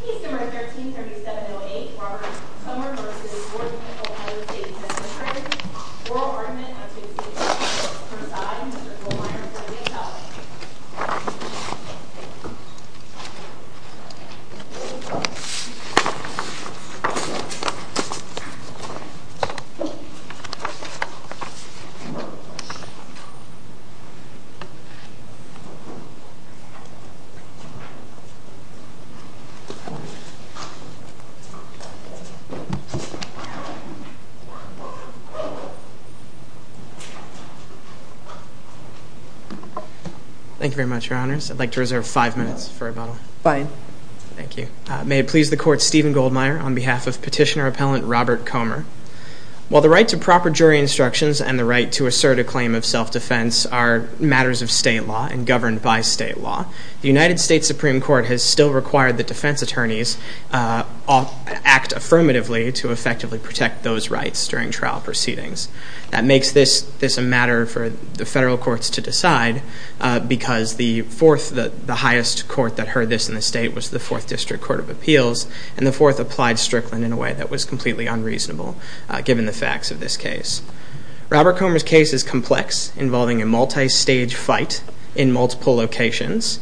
Peace No. 13-3708 Robert Comer v. Warden Ohio State Penitentiary Oral argument at 2 p.m. Preside, Mr. Goldmeier, President Powell Thank you very much, Your Honors. I'd like to reserve five minutes for rebuttal. Fine. Thank you. May it please the Court, Stephen Goldmeier, on behalf of Petitioner-Appellant Robert Comer. While the right to proper jury instructions and the right to assert a claim of self-defense are matters of state law and governed by state law, the United States Supreme Court has still required that defense attorneys act affirmatively to effectively protect those rights during trial proceedings. That makes this a matter for the federal courts to decide, because the fourth, the highest court that heard this in the state was the Fourth District Court of Appeals, and the fourth applied Strickland in a way that was completely unreasonable, given the facts of this case. Robert Comer's case is complex, involving a multi-stage fight in multiple locations,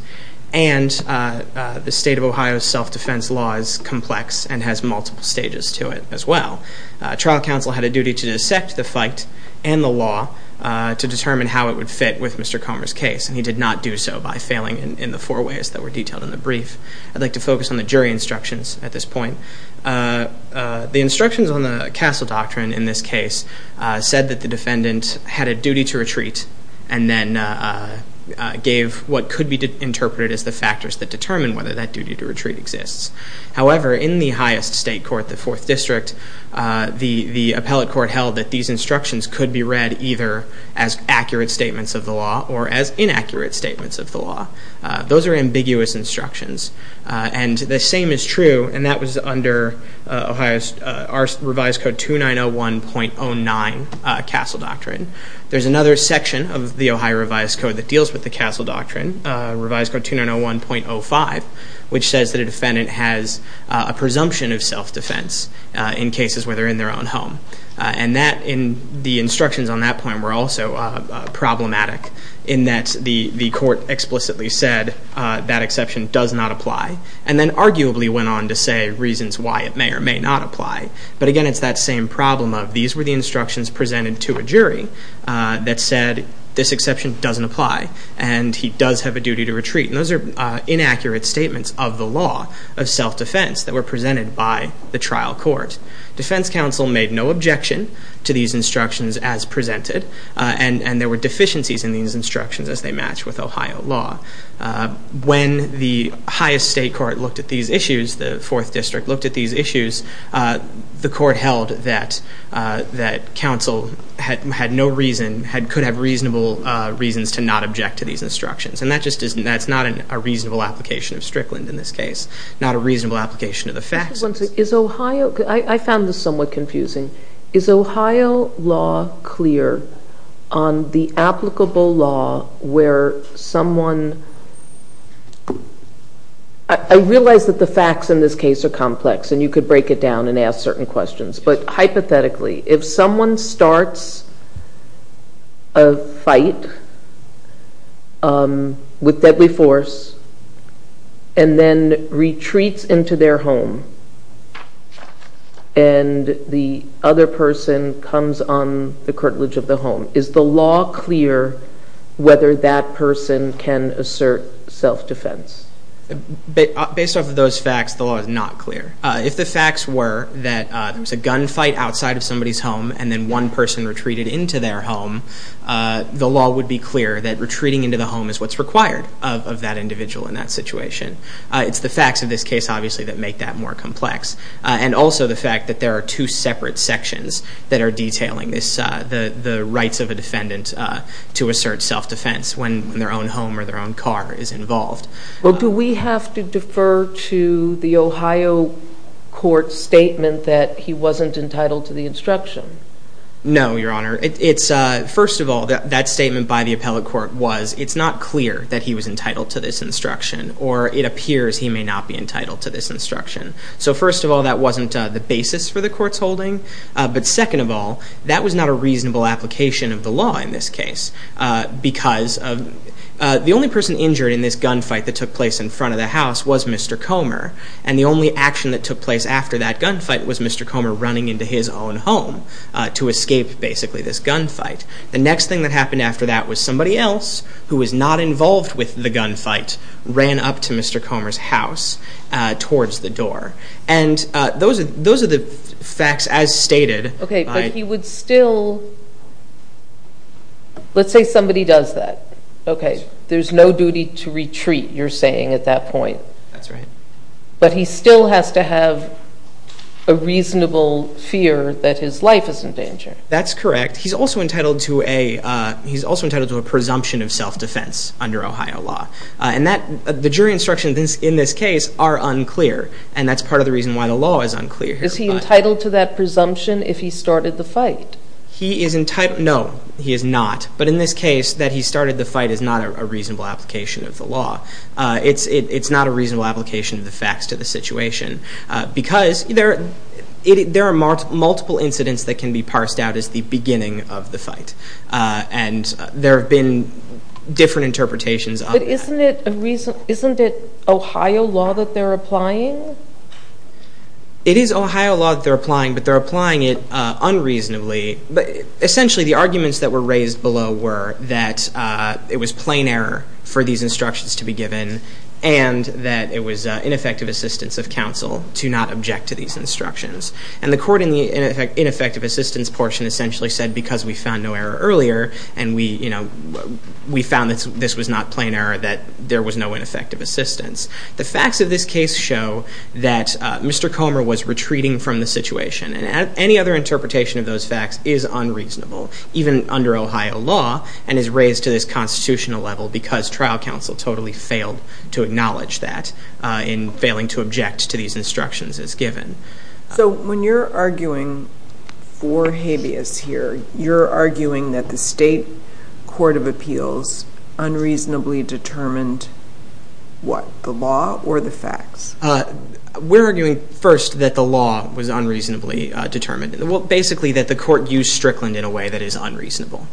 and the state of Ohio's self-defense law is complex and has multiple stages to it as well. Trial counsel had a duty to dissect the fight and the law to determine how it would fit with Mr. Comer's case, and he did not do so by failing in the four ways that were detailed in the brief. I'd like to focus on the jury instructions at this point. The instructions on the Castle Doctrine in this case said that the defendant had a duty to retreat and then gave what could be interpreted as the factors that determine whether that duty to retreat exists. However, in the highest state court, the Fourth District, the appellate court held that these instructions could be read either as accurate statements of the law or as inaccurate statements of the law. Those are ambiguous instructions, and the same is true, and that was under Ohio's Revised Code 2901.09, Castle Doctrine. There's another section of the Ohio Revised Code that deals with the Castle Doctrine, Revised Code 2901.05, which says that a defendant has a presumption of self-defense in cases where they're in their own home, and the instructions on that point were also problematic in that the court explicitly said that exception does not apply and then arguably went on to say reasons why it may or may not apply. But again, it's that same problem of these were the instructions presented to a jury that said this exception doesn't apply and he does have a duty to retreat, and those are inaccurate statements of the law of self-defense that were presented by the trial court. Defense counsel made no objection to these instructions as presented, and there were deficiencies in these instructions as they match with Ohio law. When the highest state court looked at these issues, the Fourth District looked at these issues, the court held that counsel had no reason, could have reasonable reasons to not object to these instructions, and that's not a reasonable application of Strickland in this case, not a reasonable application of the facts. Is Ohio, I found this somewhat confusing, is Ohio law clear on the applicable law where someone, I realize that the facts in this case are complex and you could break it down and ask certain questions, but hypothetically if someone starts a fight with deadly force and then retreats into their home and the other person comes on the curtilage of the home, is the law clear whether that person can assert self-defense? Based off of those facts, the law is not clear. If the facts were that there was a gunfight outside of somebody's home and then one person retreated into their home, the law would be clear that retreating into the home is what's required of that individual in that situation. It's the facts of this case, obviously, that make that more complex, and also the fact that there are two separate sections that are detailing the rights of a defendant to assert self-defense when their own home or their own car is involved. Well, do we have to defer to the Ohio court's statement that he wasn't entitled to the instruction? No, Your Honor. First of all, that statement by the appellate court was it's not clear that he was entitled to this instruction or it appears he may not be entitled to this instruction. So first of all, that wasn't the basis for the court's holding, but second of all, that was not a reasonable application of the law in this case because the only person injured in this gunfight that took place in front of the house was Mr. Comer, and the only action that took place after that gunfight was Mr. Comer running into his own home to escape, basically, this gunfight. The next thing that happened after that was somebody else who was not involved with the gunfight ran up to Mr. Comer's house towards the door. And those are the facts as stated. Okay, but he would still, let's say somebody does that. Okay, there's no duty to retreat, you're saying, at that point. That's right. But he still has to have a reasonable fear that his life is in danger. That's correct. He's also entitled to a presumption of self-defense under Ohio law, and the jury instructions in this case are unclear, and that's part of the reason why the law is unclear here. Was he entitled to that presumption if he started the fight? No, he is not. But in this case, that he started the fight is not a reasonable application of the law. It's not a reasonable application of the facts to the situation because there are multiple incidents that can be parsed out as the beginning of the fight, and there have been different interpretations of that. But isn't it Ohio law that they're applying? It is Ohio law that they're applying, but they're applying it unreasonably. Essentially, the arguments that were raised below were that it was plain error for these instructions to be given and that it was ineffective assistance of counsel to not object to these instructions. And the court in the ineffective assistance portion essentially said, because we found no error earlier and we found that this was not plain error, that there was no ineffective assistance. The facts of this case show that Mr. Comer was retreating from the situation, and any other interpretation of those facts is unreasonable, even under Ohio law, and is raised to this constitutional level because trial counsel totally failed to acknowledge that in failing to object to these instructions as given. So when you're arguing for habeas here, you're arguing that the state court of appeals unreasonably determined what? The law or the facts? We're arguing first that the law was unreasonably determined. Well, basically that the court used Strickland in a way that is unreasonable,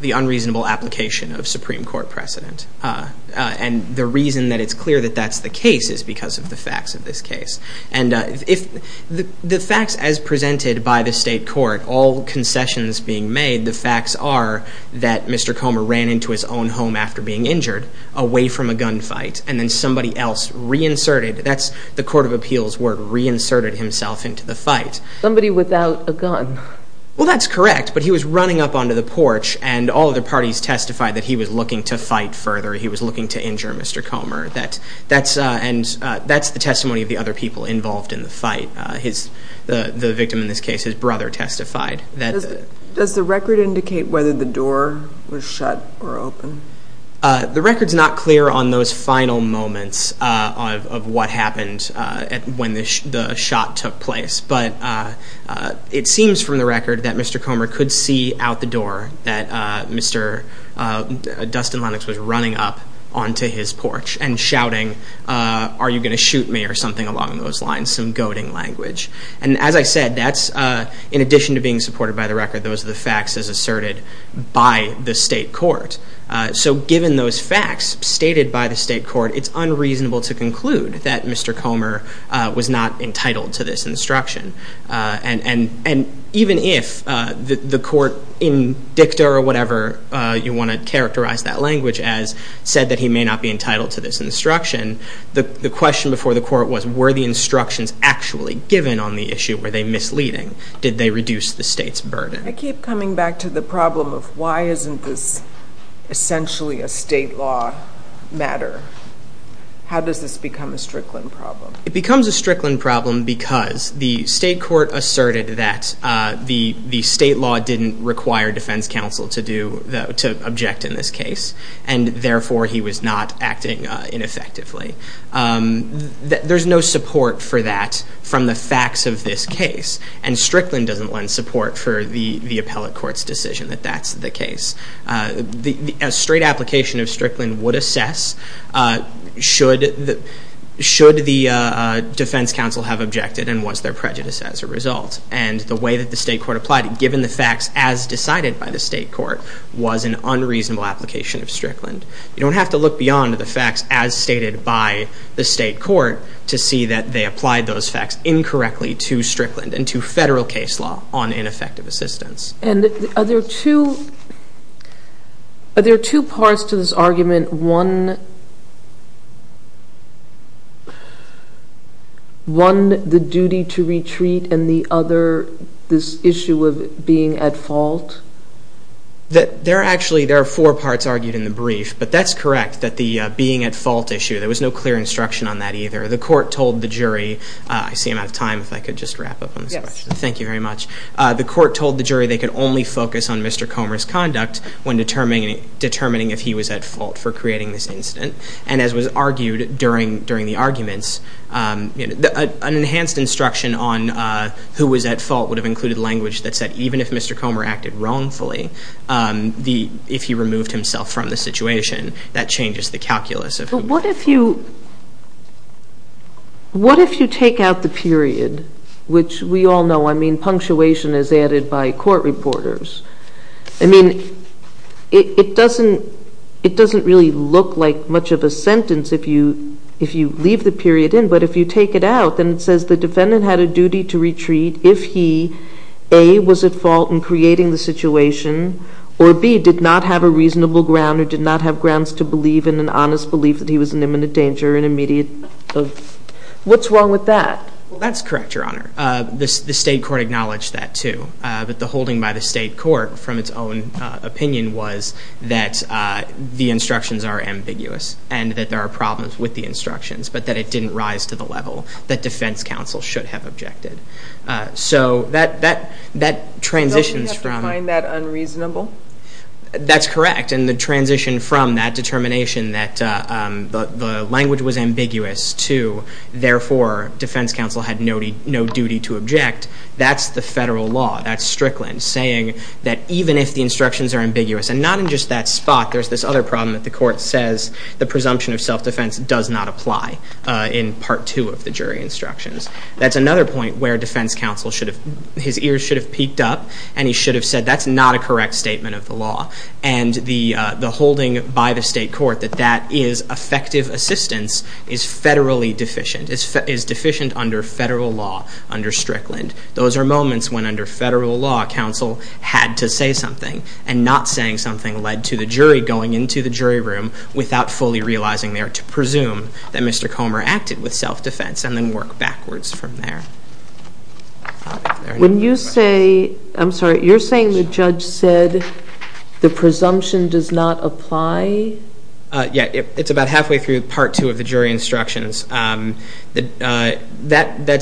the unreasonable application of Supreme Court precedent. And the reason that it's clear that that's the case is because of the facts of this case. The facts as presented by the state court, all concessions being made, the facts are that Mr. Comer ran into his own home after being injured, away from a gunfight, and then somebody else reinserted, that's the court of appeals word, reinserted himself into the fight. Somebody without a gun. Well, that's correct, but he was running up onto the porch, and all of the parties testified that he was looking to fight further, he was looking to injure Mr. Comer. And that's the testimony of the other people involved in the fight. The victim in this case, his brother, testified. Does the record indicate whether the door was shut or open? The record's not clear on those final moments of what happened when the shot took place, but it seems from the record that Mr. Comer could see out the door that Mr. Dustin Lennox was running up onto his porch and shouting, are you going to shoot me or something along those lines, some goading language. And as I said, that's in addition to being supported by the record, those are the facts as asserted by the state court. So given those facts stated by the state court, it's unreasonable to conclude that Mr. Comer was not entitled to this instruction. And even if the court in dicta or whatever you want to characterize that language as said that he may not be entitled to this instruction, the question before the court was were the instructions actually given on the issue? Were they misleading? Did they reduce the state's burden? I keep coming back to the problem of why isn't this essentially a state law matter? How does this become a Strickland problem? It becomes a Strickland problem because the state court asserted that the state law didn't require defense counsel to object in this case, and therefore he was not acting ineffectively. There's no support for that from the facts of this case, and Strickland doesn't lend support for the appellate court's decision that that's the case. A straight application of Strickland would assess should the defense counsel have objected and was there prejudice as a result. And the way that the state court applied it, given the facts as decided by the state court, was an unreasonable application of Strickland. You don't have to look beyond the facts as stated by the state court to see that they applied those facts incorrectly to Strickland and to federal case law on ineffective assistance. And are there two parts to this argument? One, the duty to retreat, and the other, this issue of being at fault? There are actually four parts argued in the brief, but that's correct that the being at fault issue, there was no clear instruction on that either. The court told the jury, I see I'm out of time, if I could just wrap up on this question. Yes. Thank you very much. The court told the jury they could only focus on Mr. Comer's conduct when determining if he was at fault for creating this incident. And as was argued during the arguments, an enhanced instruction on who was at fault would have included language that said even if Mr. Comer acted wrongfully, if he removed himself from the situation, that changes the calculus. But what if you take out the period, which we all know, I mean, punctuation is added by court reporters. I mean, it doesn't really look like much of a sentence if you leave the period in, but if you take it out, then it says the defendant had a duty to retreat if he A, was at fault in creating the situation, or B, did not have a reasonable ground or did not have grounds to believe in an honest belief that he was in imminent danger or an immediate. What's wrong with that? Well, that's correct, Your Honor. The state court acknowledged that, too. But the holding by the state court, from its own opinion, was that the instructions are ambiguous and that there are problems with the instructions, but that it didn't rise to the level that defense counsel should have objected. So that transitions from... So we have to find that unreasonable? That's correct. And the transition from that determination that the language was ambiguous to, and therefore, defense counsel had no duty to object, that's the federal law. That's Strickland saying that even if the instructions are ambiguous, and not in just that spot, there's this other problem that the court says the presumption of self-defense does not apply in Part 2 of the jury instructions. That's another point where defense counsel should have... His ears should have peaked up, and he should have said, that's not a correct statement of the law. And the holding by the state court that that is effective assistance is federally deficient, is deficient under federal law, under Strickland. Those are moments when, under federal law, counsel had to say something, and not saying something led to the jury going into the jury room without fully realizing there, to presume that Mr. Comer acted with self-defense, and then work backwards from there. When you say... I'm sorry, you're saying the judge said the presumption does not apply? Yeah, it's about halfway through Part 2 of the jury instructions. That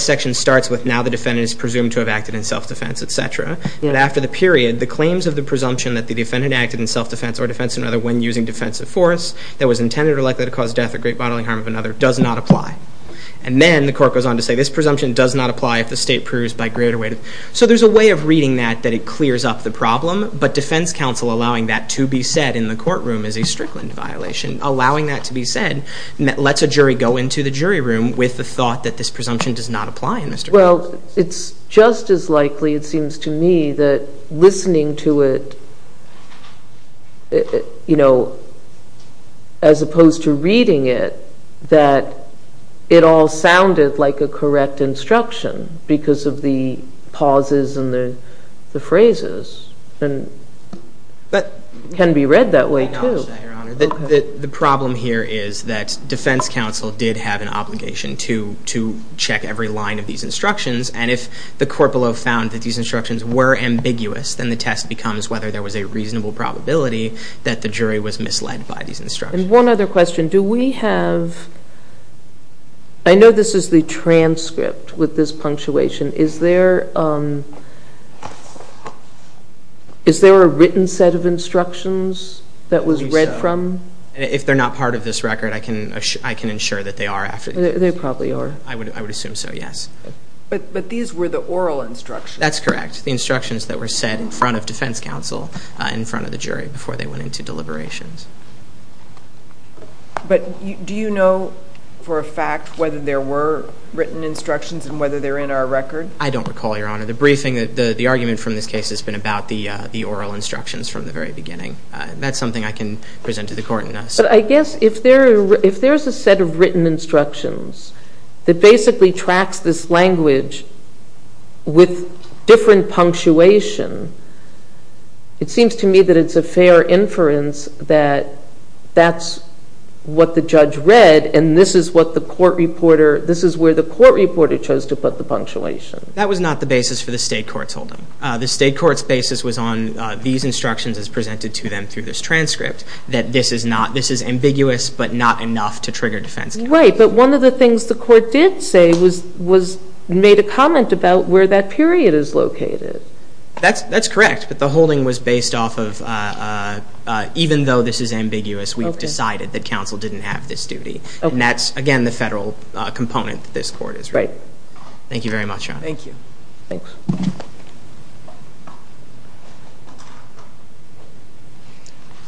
section starts with, now the defendant is presumed to have acted in self-defense, etc. And after the period, the claims of the presumption that the defendant acted in self-defense, or defense in other words, when using defensive force, that was intended or likely to cause death or great bodily harm of another, does not apply. And then the court goes on to say, this presumption does not apply if the state proves by greater way... So there's a way of reading that, that it clears up the problem, but defense counsel allowing that to be said in the courtroom is a Strickland violation. Allowing that to be said lets a jury go into the jury room with the thought that this presumption does not apply in Mr. Comer. Well, it's just as likely, it seems to me, that listening to it, you know, as opposed to reading it, that it all sounded like a correct instruction because of the pauses and the phrases. And it can be read that way, too. I acknowledge that, Your Honor. The problem here is that defense counsel did have an obligation to check every line of these instructions, and if the court below found that these instructions were ambiguous, then the test becomes whether there was a reasonable probability that the jury was misled by these instructions. And one other question. Do we have... I know this is the transcript with this punctuation. Is there... Is there a written set of instructions that was read from? I believe so. If they're not part of this record, I can ensure that they are after this. They probably are. I would assume so, yes. But these were the oral instructions. That's correct. The instructions that were said in front of defense counsel, in front of the jury, before they went into deliberations. But do you know for a fact whether there were written instructions and whether they're in our record? I don't recall, Your Honor. The briefing... The argument from this case has been about the oral instructions from the very beginning. That's something I can present to the court in a... But I guess if there's a set of written instructions that basically tracks this language with different punctuation, it seems to me that it's a fair inference that that's what the judge read and this is what the court reporter... This is where the court reporter chose to put the punctuation. That was not the basis for the state court's holding. The state court's basis was on these instructions as presented to them through this transcript, that this is ambiguous but not enough to trigger defense counsel. Right, but one of the things the court did say was made a comment about where that period is located. That's correct, but the holding was based off of even though this is ambiguous, we've decided that counsel didn't have this duty. And that's, again, the federal component that this court is writing. Thank you very much, Your Honor. Thank you.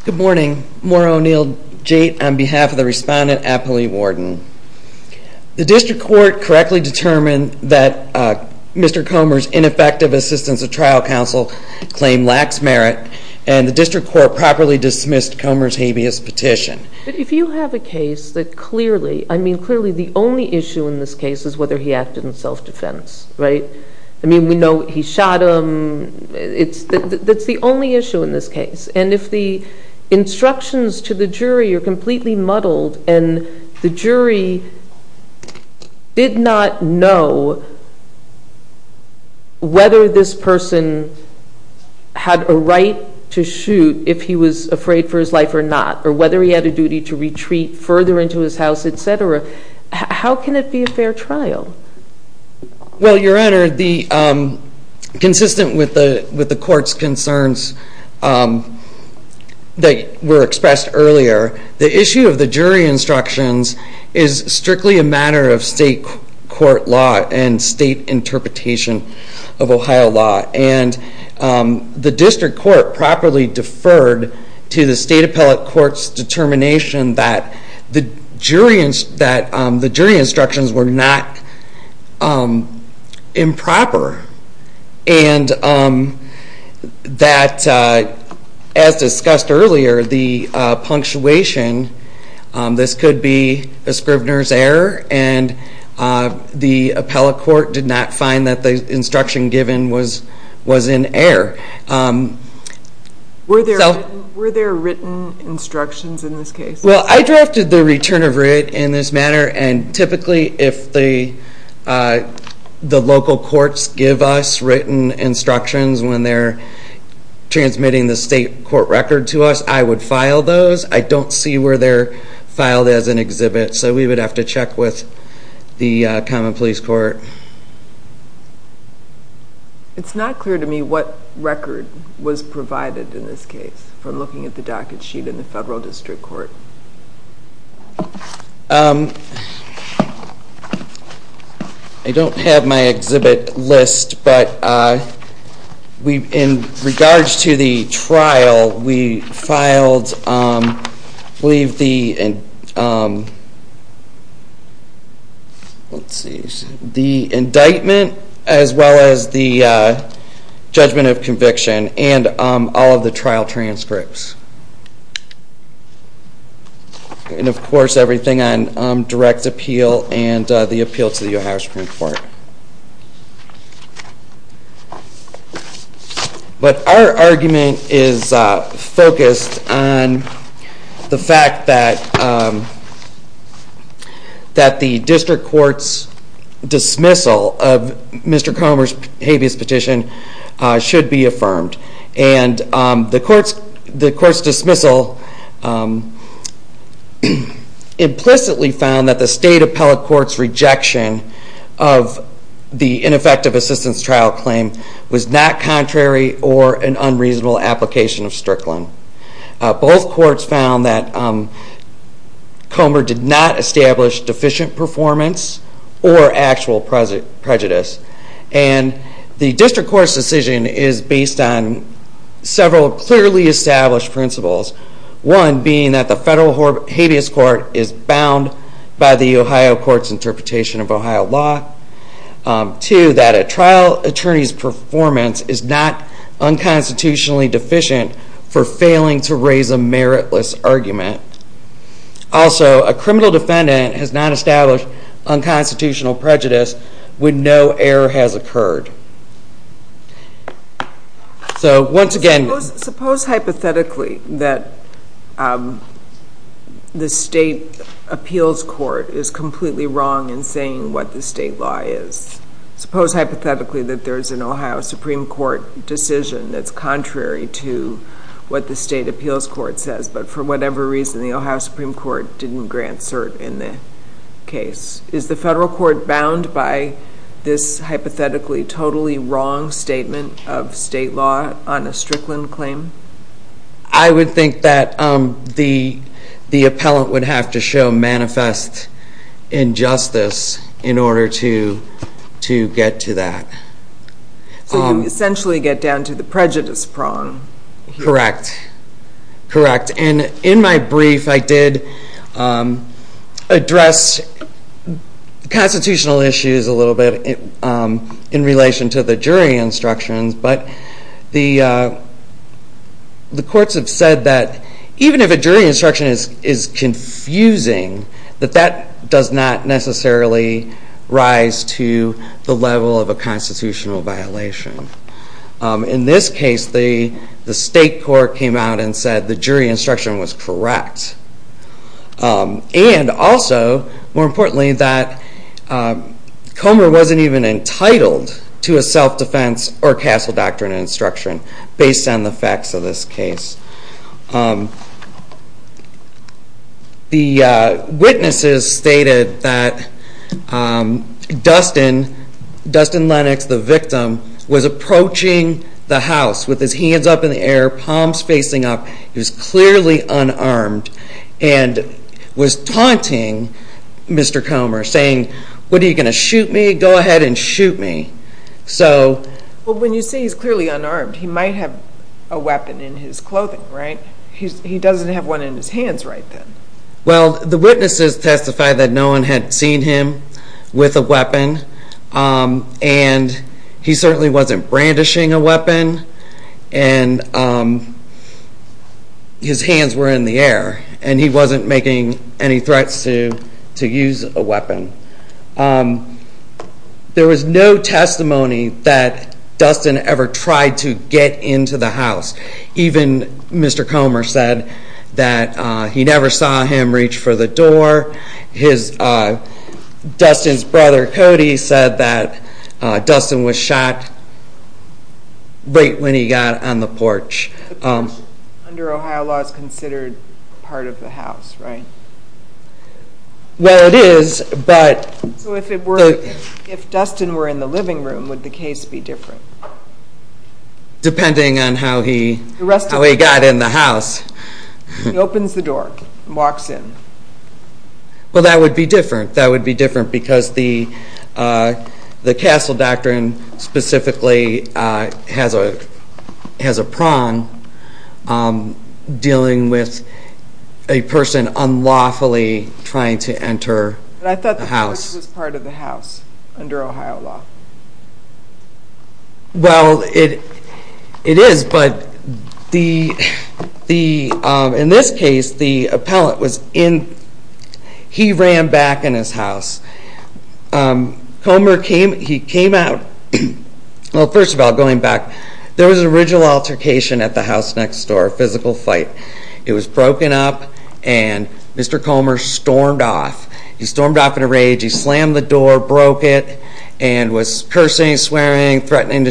Good morning. Maura O'Neill Jait on behalf of the respondent, Apolli Warden. The district court correctly determined that Mr. Comer's ineffective assistance of trial counsel claimed lax merit and the district court properly dismissed Comer's habeas petition. But if you have a case that clearly... I mean, we know he shot him. That's the only issue in this case. And if the instructions to the jury are completely muddled and the jury did not know whether this person had a right to shoot if he was afraid for his life or not, or whether he had a duty to retreat further into his house, etc., how can it be a fair trial? Well, Your Honor, consistent with the court's concerns that were expressed earlier, the issue of the jury instructions is strictly a matter of state court law and state interpretation of Ohio law. And the district court properly deferred to the state appellate court's determination that the jury instructions were not improper and that, as discussed earlier, the punctuation... This could be a scrivener's error and the appellate court did not find that the instruction given was in error. Were there written instructions in this case? Well, I drafted the return of writ in this manner and typically if the local courts give us written instructions when they're transmitting the state court record to us, I would file those. I don't see where they're filed as an exhibit so we would have to check with the common police court. It's not clear to me what record was provided in this case from looking at the docket sheet in the federal district court. I don't have my exhibit list, but in regards to the trial, we filed the indictment as well as the trial transcripts. And of course everything on direct appeal and the appeal to the Ohio Supreme Court. But our argument is focused on the fact that the district court's dismissal of Mr. Comer's habeas petition should be affirmed. The court's dismissal implicitly found that the state appellate court's rejection of the ineffective assistance trial claim was not contrary or an unreasonable application of Strickland. Both courts found that Comer did not establish deficient performance or actual prejudice. And the district court's decision is based on several clearly established principles. One being that the federal habeas court is bound by the Ohio court's interpretation of Ohio law. Two, that a trial attorney's performance is not unconstitutionally deficient for failing to raise a meritless argument. Also, a criminal defendant has not established unconstitutional prejudice when no error has occurred. So once again... Suppose hypothetically that the state appeals court is completely wrong in saying what the state law is. Suppose hypothetically that there's an Ohio Supreme Court decision that's contrary to what the state appeals court says, but for whatever reason the Ohio Supreme Court didn't grant cert in the case. Is the federal court bound by this hypothetically totally wrong statement of state law on a Strickland claim? I would think that the appellant would have to show manifest injustice in order to get to that. So you essentially get down to the prejudice prong. Correct. In my brief I did address constitutional issues a little bit in relation to the jury instructions, but the courts have said that even if a jury instruction is confusing that that does not necessarily rise to the level of a constitutional violation. In this case the state court came out and said the jury instruction was correct. And also more importantly that Comer wasn't even entitled to a self-defense or castle doctrine instruction based on the facts of this case. The witnesses stated that Dustin Lennox, the victim, was approaching the house with his hands up in the air, palms facing up. He was clearly unarmed and was taunting Mr. Comer saying what are you going to shoot me? Go ahead and shoot me. Well when you say he's clearly unarmed he might have a weapon in his clothing, right? He doesn't have one in his hands right then. Well the witnesses testified that no one had seen him with a weapon and he certainly wasn't brandishing a weapon and his hands were in the air and he wasn't making any threats to use a weapon. There was no testimony that Dustin ever tried to get into the house. Even Mr. Comer said that he never saw him reach for the door. Dustin's brother Cody said that Dustin was shot right when he got on the porch. The porch under Ohio law is considered part of the house, right? Well it is, but So if Dustin were in the living room would the case be different? Depending on how he got in the house. He opens the door and walks in. Well that would be different. That would be different because the Castle Doctrine specifically has a prong dealing with a person unlawfully trying to enter the house. But I thought the porch was part of the house under Ohio law. Well it is, but in this case the appellant was in he ran back in his house. Comer came out well first of all going back, there was an original altercation at the house next door, a physical fight. It was broken up and Mr. Comer stormed off. He stormed off in a rage, he slammed the door, broke it and was cursing, swearing, threatening to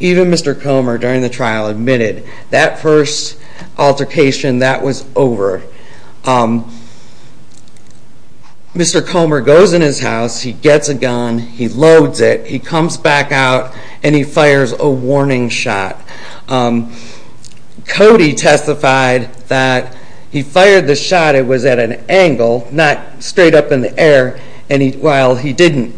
even Mr. Comer during the trial admitted that first altercation, that was over. Mr. Comer goes in his house he gets a gun, he loads it he comes back out and he fires a warning shot. Cody testified that he fired the shot it was at an angle, not straight up in the air and while he didn't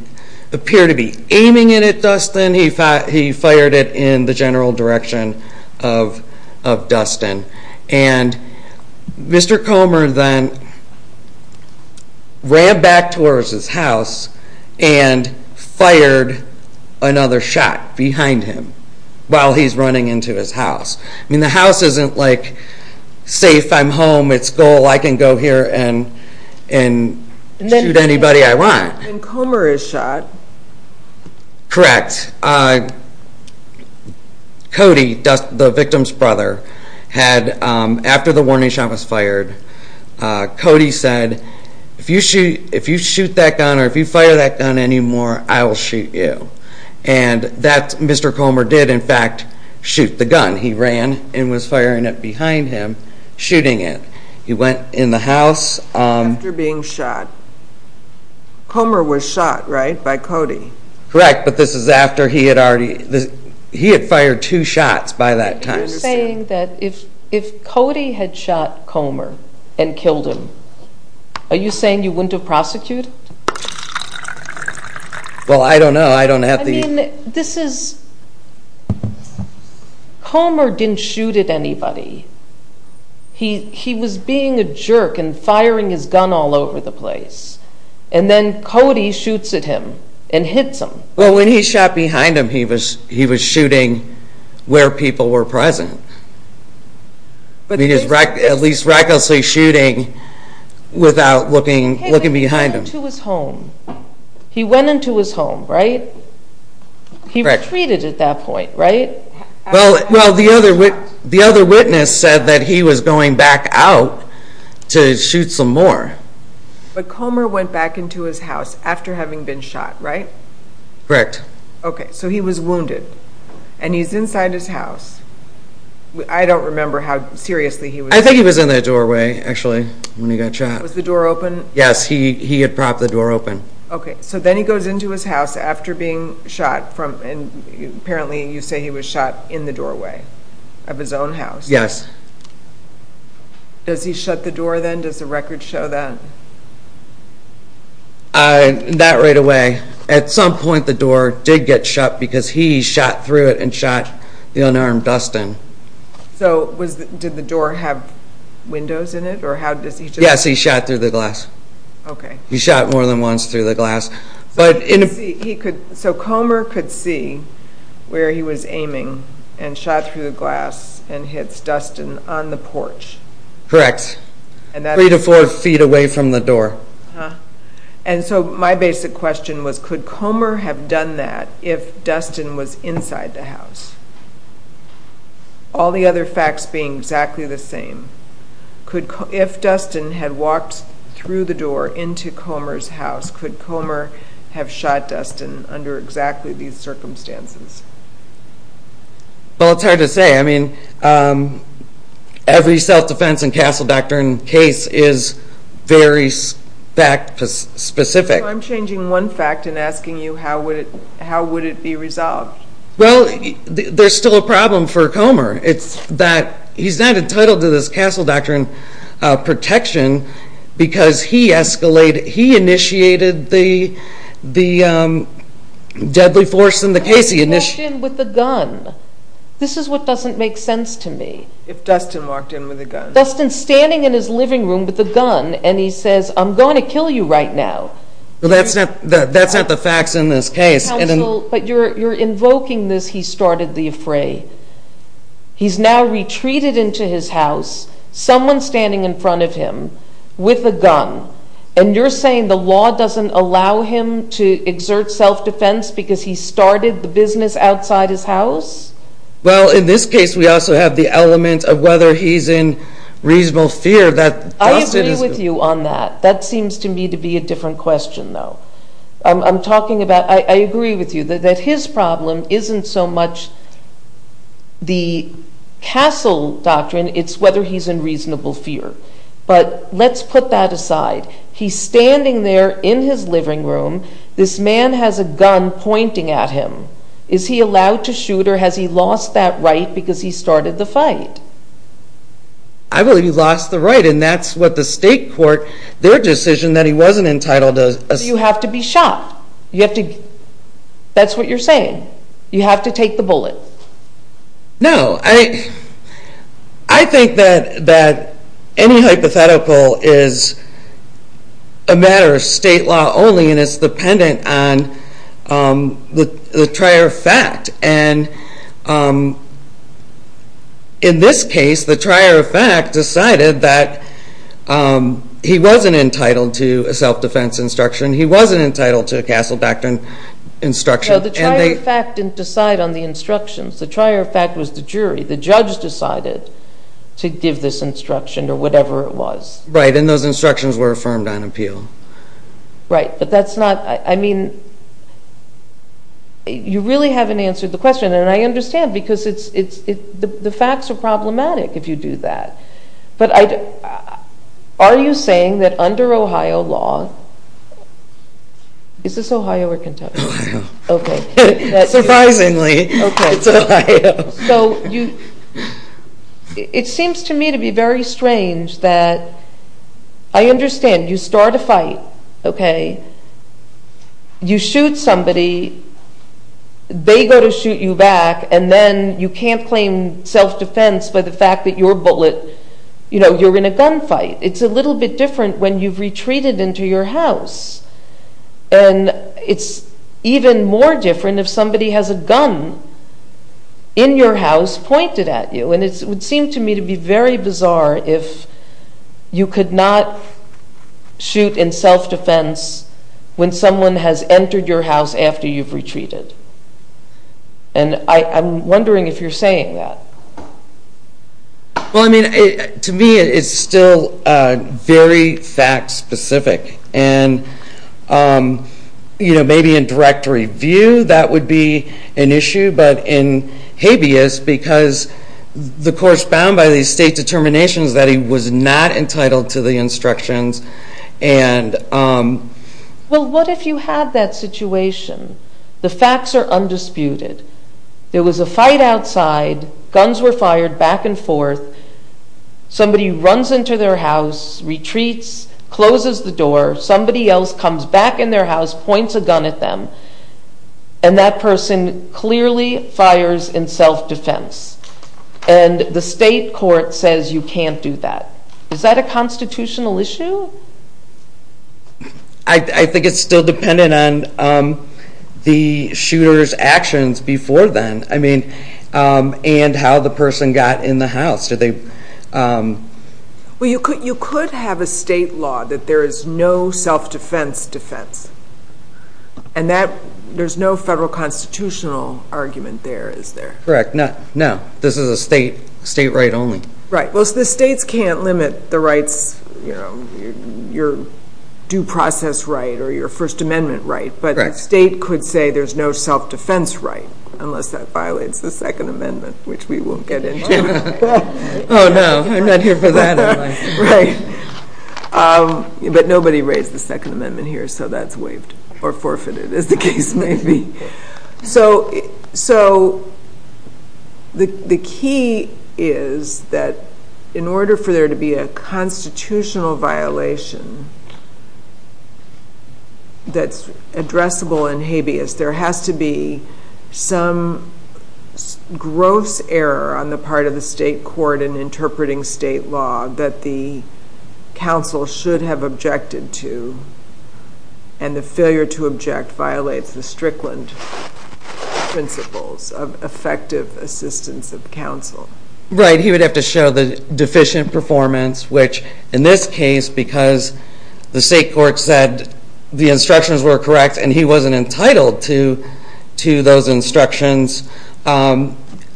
appear to be aiming at Dustin, he fired it in the general direction of Dustin and Mr. Comer then ran back towards his house and fired another shot behind him while he's running into his house. I mean the house isn't like safe, I'm home, it's goal, I can go here and shoot anybody I want. When Comer is shot Correct Cody, the victim's brother after the warning shot was fired Cody said, if you shoot that gun or if you fire that gun anymore, I will shoot you and Mr. Comer did in fact shoot the gun. He ran and was firing it behind him shooting it. He went in the house After being shot Comer was shot, right, by Cody? Correct, but this is after he had fired two shots by that time. You're saying that if Cody had shot Comer and killed him are you saying you wouldn't have prosecuted? Well I don't know, I don't have the I mean, this is Comer didn't shoot at anybody He was being a jerk and firing his gun all over the place and then Cody shoots at him and hits him Well when he shot behind him he was shooting where people were present at least recklessly shooting without looking behind him He went into his home, right? He retreated at that point, right? Well the other witness said that he was going back out to shoot some more But Comer went back into his house after having been shot, right? Correct. Okay, so he was wounded and he's inside his house I don't remember how seriously he was I think he was in the doorway actually when he got shot Was the door open? Yes, he had propped the door open Okay, so then he goes into his house after being shot and apparently you say he was shot in the doorway of his own house? Yes Does he shut the door then? Does the record show that? Not right away At some point the door did get shut because he shot through it and shot the unarmed Dustin So did the door have windows in it? Yes, he shot through the glass He shot more than once through the glass So Comer could see where he was aiming and shot through the glass and hits Dustin on the porch Correct. Three to four feet away from the door And so my basic question was could Comer have done that if Dustin was inside the house? All the other facts being exactly the same If Dustin had walked through the door into Comer's house could Comer have shot Dustin under exactly these circumstances? Well, it's hard to say Every self-defense and castle doctrine case is very fact specific I'm changing one fact and asking you how would it be resolved? Well, there's still a problem for Comer He's not entitled to this castle doctrine protection because he initiated the deadly force in the case He walked in with a gun This is what doesn't make sense to me Dustin's standing in his living room with a gun and he says, I'm going to kill you right now That's not the facts in this case Counsel, but you're invoking this he started the affray He's now retreated into his house someone standing in front of him with a gun and you're saying the law doesn't allow him to exert self-defense because he started the business outside his house? Well, in this case we also have the element of whether he's in reasonable fear I agree with you on that that seems to me to be a different question though I agree with you that his problem isn't so much the castle doctrine it's whether he's in reasonable fear but let's put that aside he's standing there in his living room this man has a gun pointing at him Is he allowed to shoot or has he lost that right because he started the fight? I believe he lost the right and that's what the state court their decision that he wasn't entitled to You have to be shot That's what you're saying You have to take the bullet No, I think that any hypothetical is a matter of state law only and it's dependent on the trier of fact and in this case the trier of fact decided that he wasn't entitled to a self-defense instruction he wasn't entitled to a castle doctrine instruction The trier of fact didn't decide on the instructions the trier of fact was the jury the judge decided to give this instruction or whatever it was Right, and those instructions were affirmed on appeal Right, but that's not you really haven't answered the question and I understand because the facts are problematic if you do that Are you saying that under Ohio law Is this Ohio or Kentucky? Ohio, surprisingly It's Ohio It seems to me to be very strange that I understand you start a fight you shoot somebody they go to shoot you back and then you can't claim self-defense by the fact that you're in a gun fight It's a little bit different when you've retreated into your house and it's even more different if somebody has a gun in your house pointed at you and it would seem to me to be very bizarre if you could not shoot in self-defense when someone has entered your house after you've retreated and I'm wondering if you're saying that Well I mean to me it's still very fact specific and maybe in direct review that would be an issue but in habeas because the court's bound by these state determinations that he was not entitled to the instructions Well what if you had that situation the facts are undisputed there was a fight outside guns were fired back and forth somebody runs into their house retreats, closes the door somebody else comes back in their house points a gun at them and that person clearly fires in self-defense and the state court says you can't do that Is that a constitutional issue? I think it's still dependent on the shooter's actions before then and how the person got in the house You could have a state law that there is no self-defense defense and there's no federal constitutional argument there, is there? No, this is a state right only Well the states can't limit the rights your due process right or your first amendment right but the state could say there's no self-defense right unless that violates the second amendment which we won't get into Oh no, I'm not here for that But nobody raised the second amendment here so that's waived or forfeited as the case may be So the key is that in order for there to be a constitutional violation that's addressable in habeas there has to be some gross error on the part of the state court in interpreting state law that the counsel should have objected to and the failure to object violates the Strickland principles of effective assistance of counsel Right, he would have to show the deficient performance which in this case because the state court said that the instructions were correct and he wasn't entitled to those instructions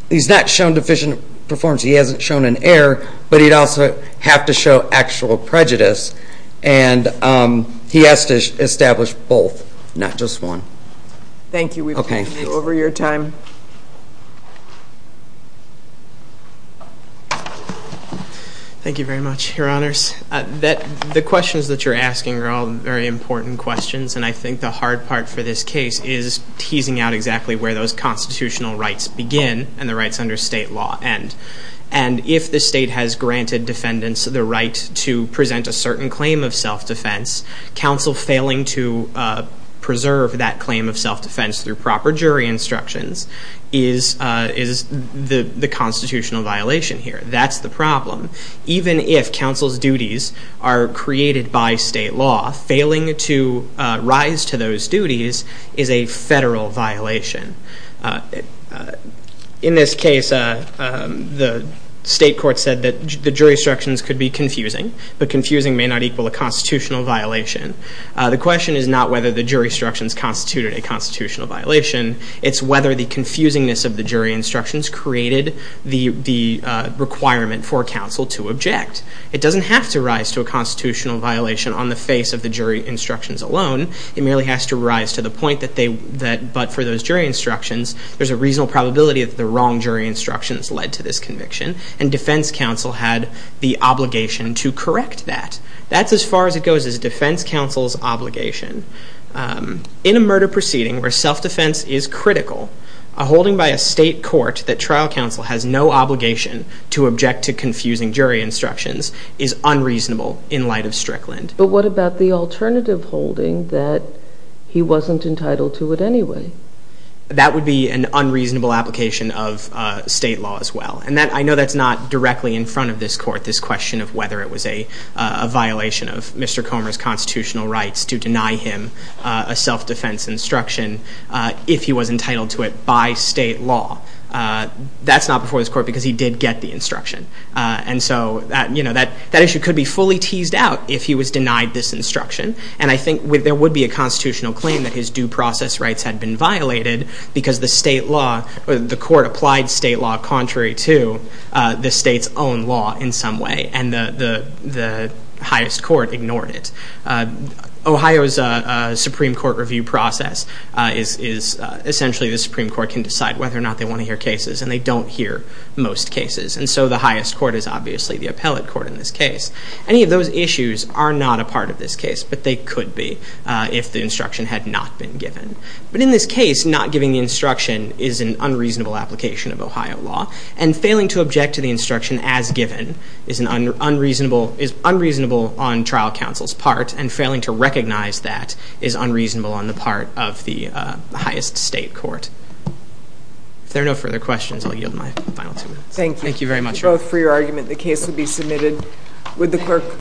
he's not shown deficient performance, he hasn't shown an error, but he'd also have to show actual prejudice and he has to establish both, not just one Thank you, we've taken over your time Thank you very much, your honors The questions that you're asking are all very important questions and I think the hard part for this case is teasing out exactly where those constitutional rights begin and the rights under state law end, and if the state has granted defendants the right to present a certain claim of self-defense, counsel failing to preserve that claim of self-defense through proper jury instructions is the constitutional violation here, that's the problem Even if counsel's duties are created by state law, failing to rise to those duties is a federal violation In this case the state court said that the jury instructions could be confusing, but confusing may not equal a constitutional violation. The question is not whether the jury instructions constituted a constitutional violation it's whether the confusingness of the jury instructions created the requirement for counsel to object It doesn't have to rise to a constitutional violation on the face of the jury instructions alone, it merely has to rise to the point that for those jury instructions there's a reasonable probability that the wrong jury instructions led to this conviction, and defense counsel had the obligation to correct that. That's as far as it goes as defense counsel's obligation In a murder proceeding where self-defense is critical a holding by a state court that trial counsel has no obligation to object to confusing jury instructions is unreasonable in light of Strickland But what about the alternative holding that he wasn't entitled to it anyway? That would be an unreasonable application of state law as well and I know that's not directly in front of this court this question of whether it was a violation of Mr. Comer's constitutional rights to deny him a self-defense instruction if he was entitled to it by state law. That's not before this court because he did get the instruction That issue could be fully teased out if he was denied this instruction, and I think there would be a constitutional claim that his due process rights had been violated because the state law, the court applied state law contrary to the state's own law in some way and the highest court ignored it Ohio's Supreme Court review process is essentially the Supreme Court can decide whether or not they want to hear cases, and they don't hear most cases, and so the highest court is obviously the appellate court in this case. Any of those issues are not a part of this case, but they could be if the instruction had not been given. But in this case, not giving the instruction is an unreasonable application of Ohio law and failing to object to the instruction as given is unreasonable on trial counsel's part and failing to recognize that is unreasonable on the part of the highest state court. If there are no further questions, I'll yield my final two minutes. Thank you very much.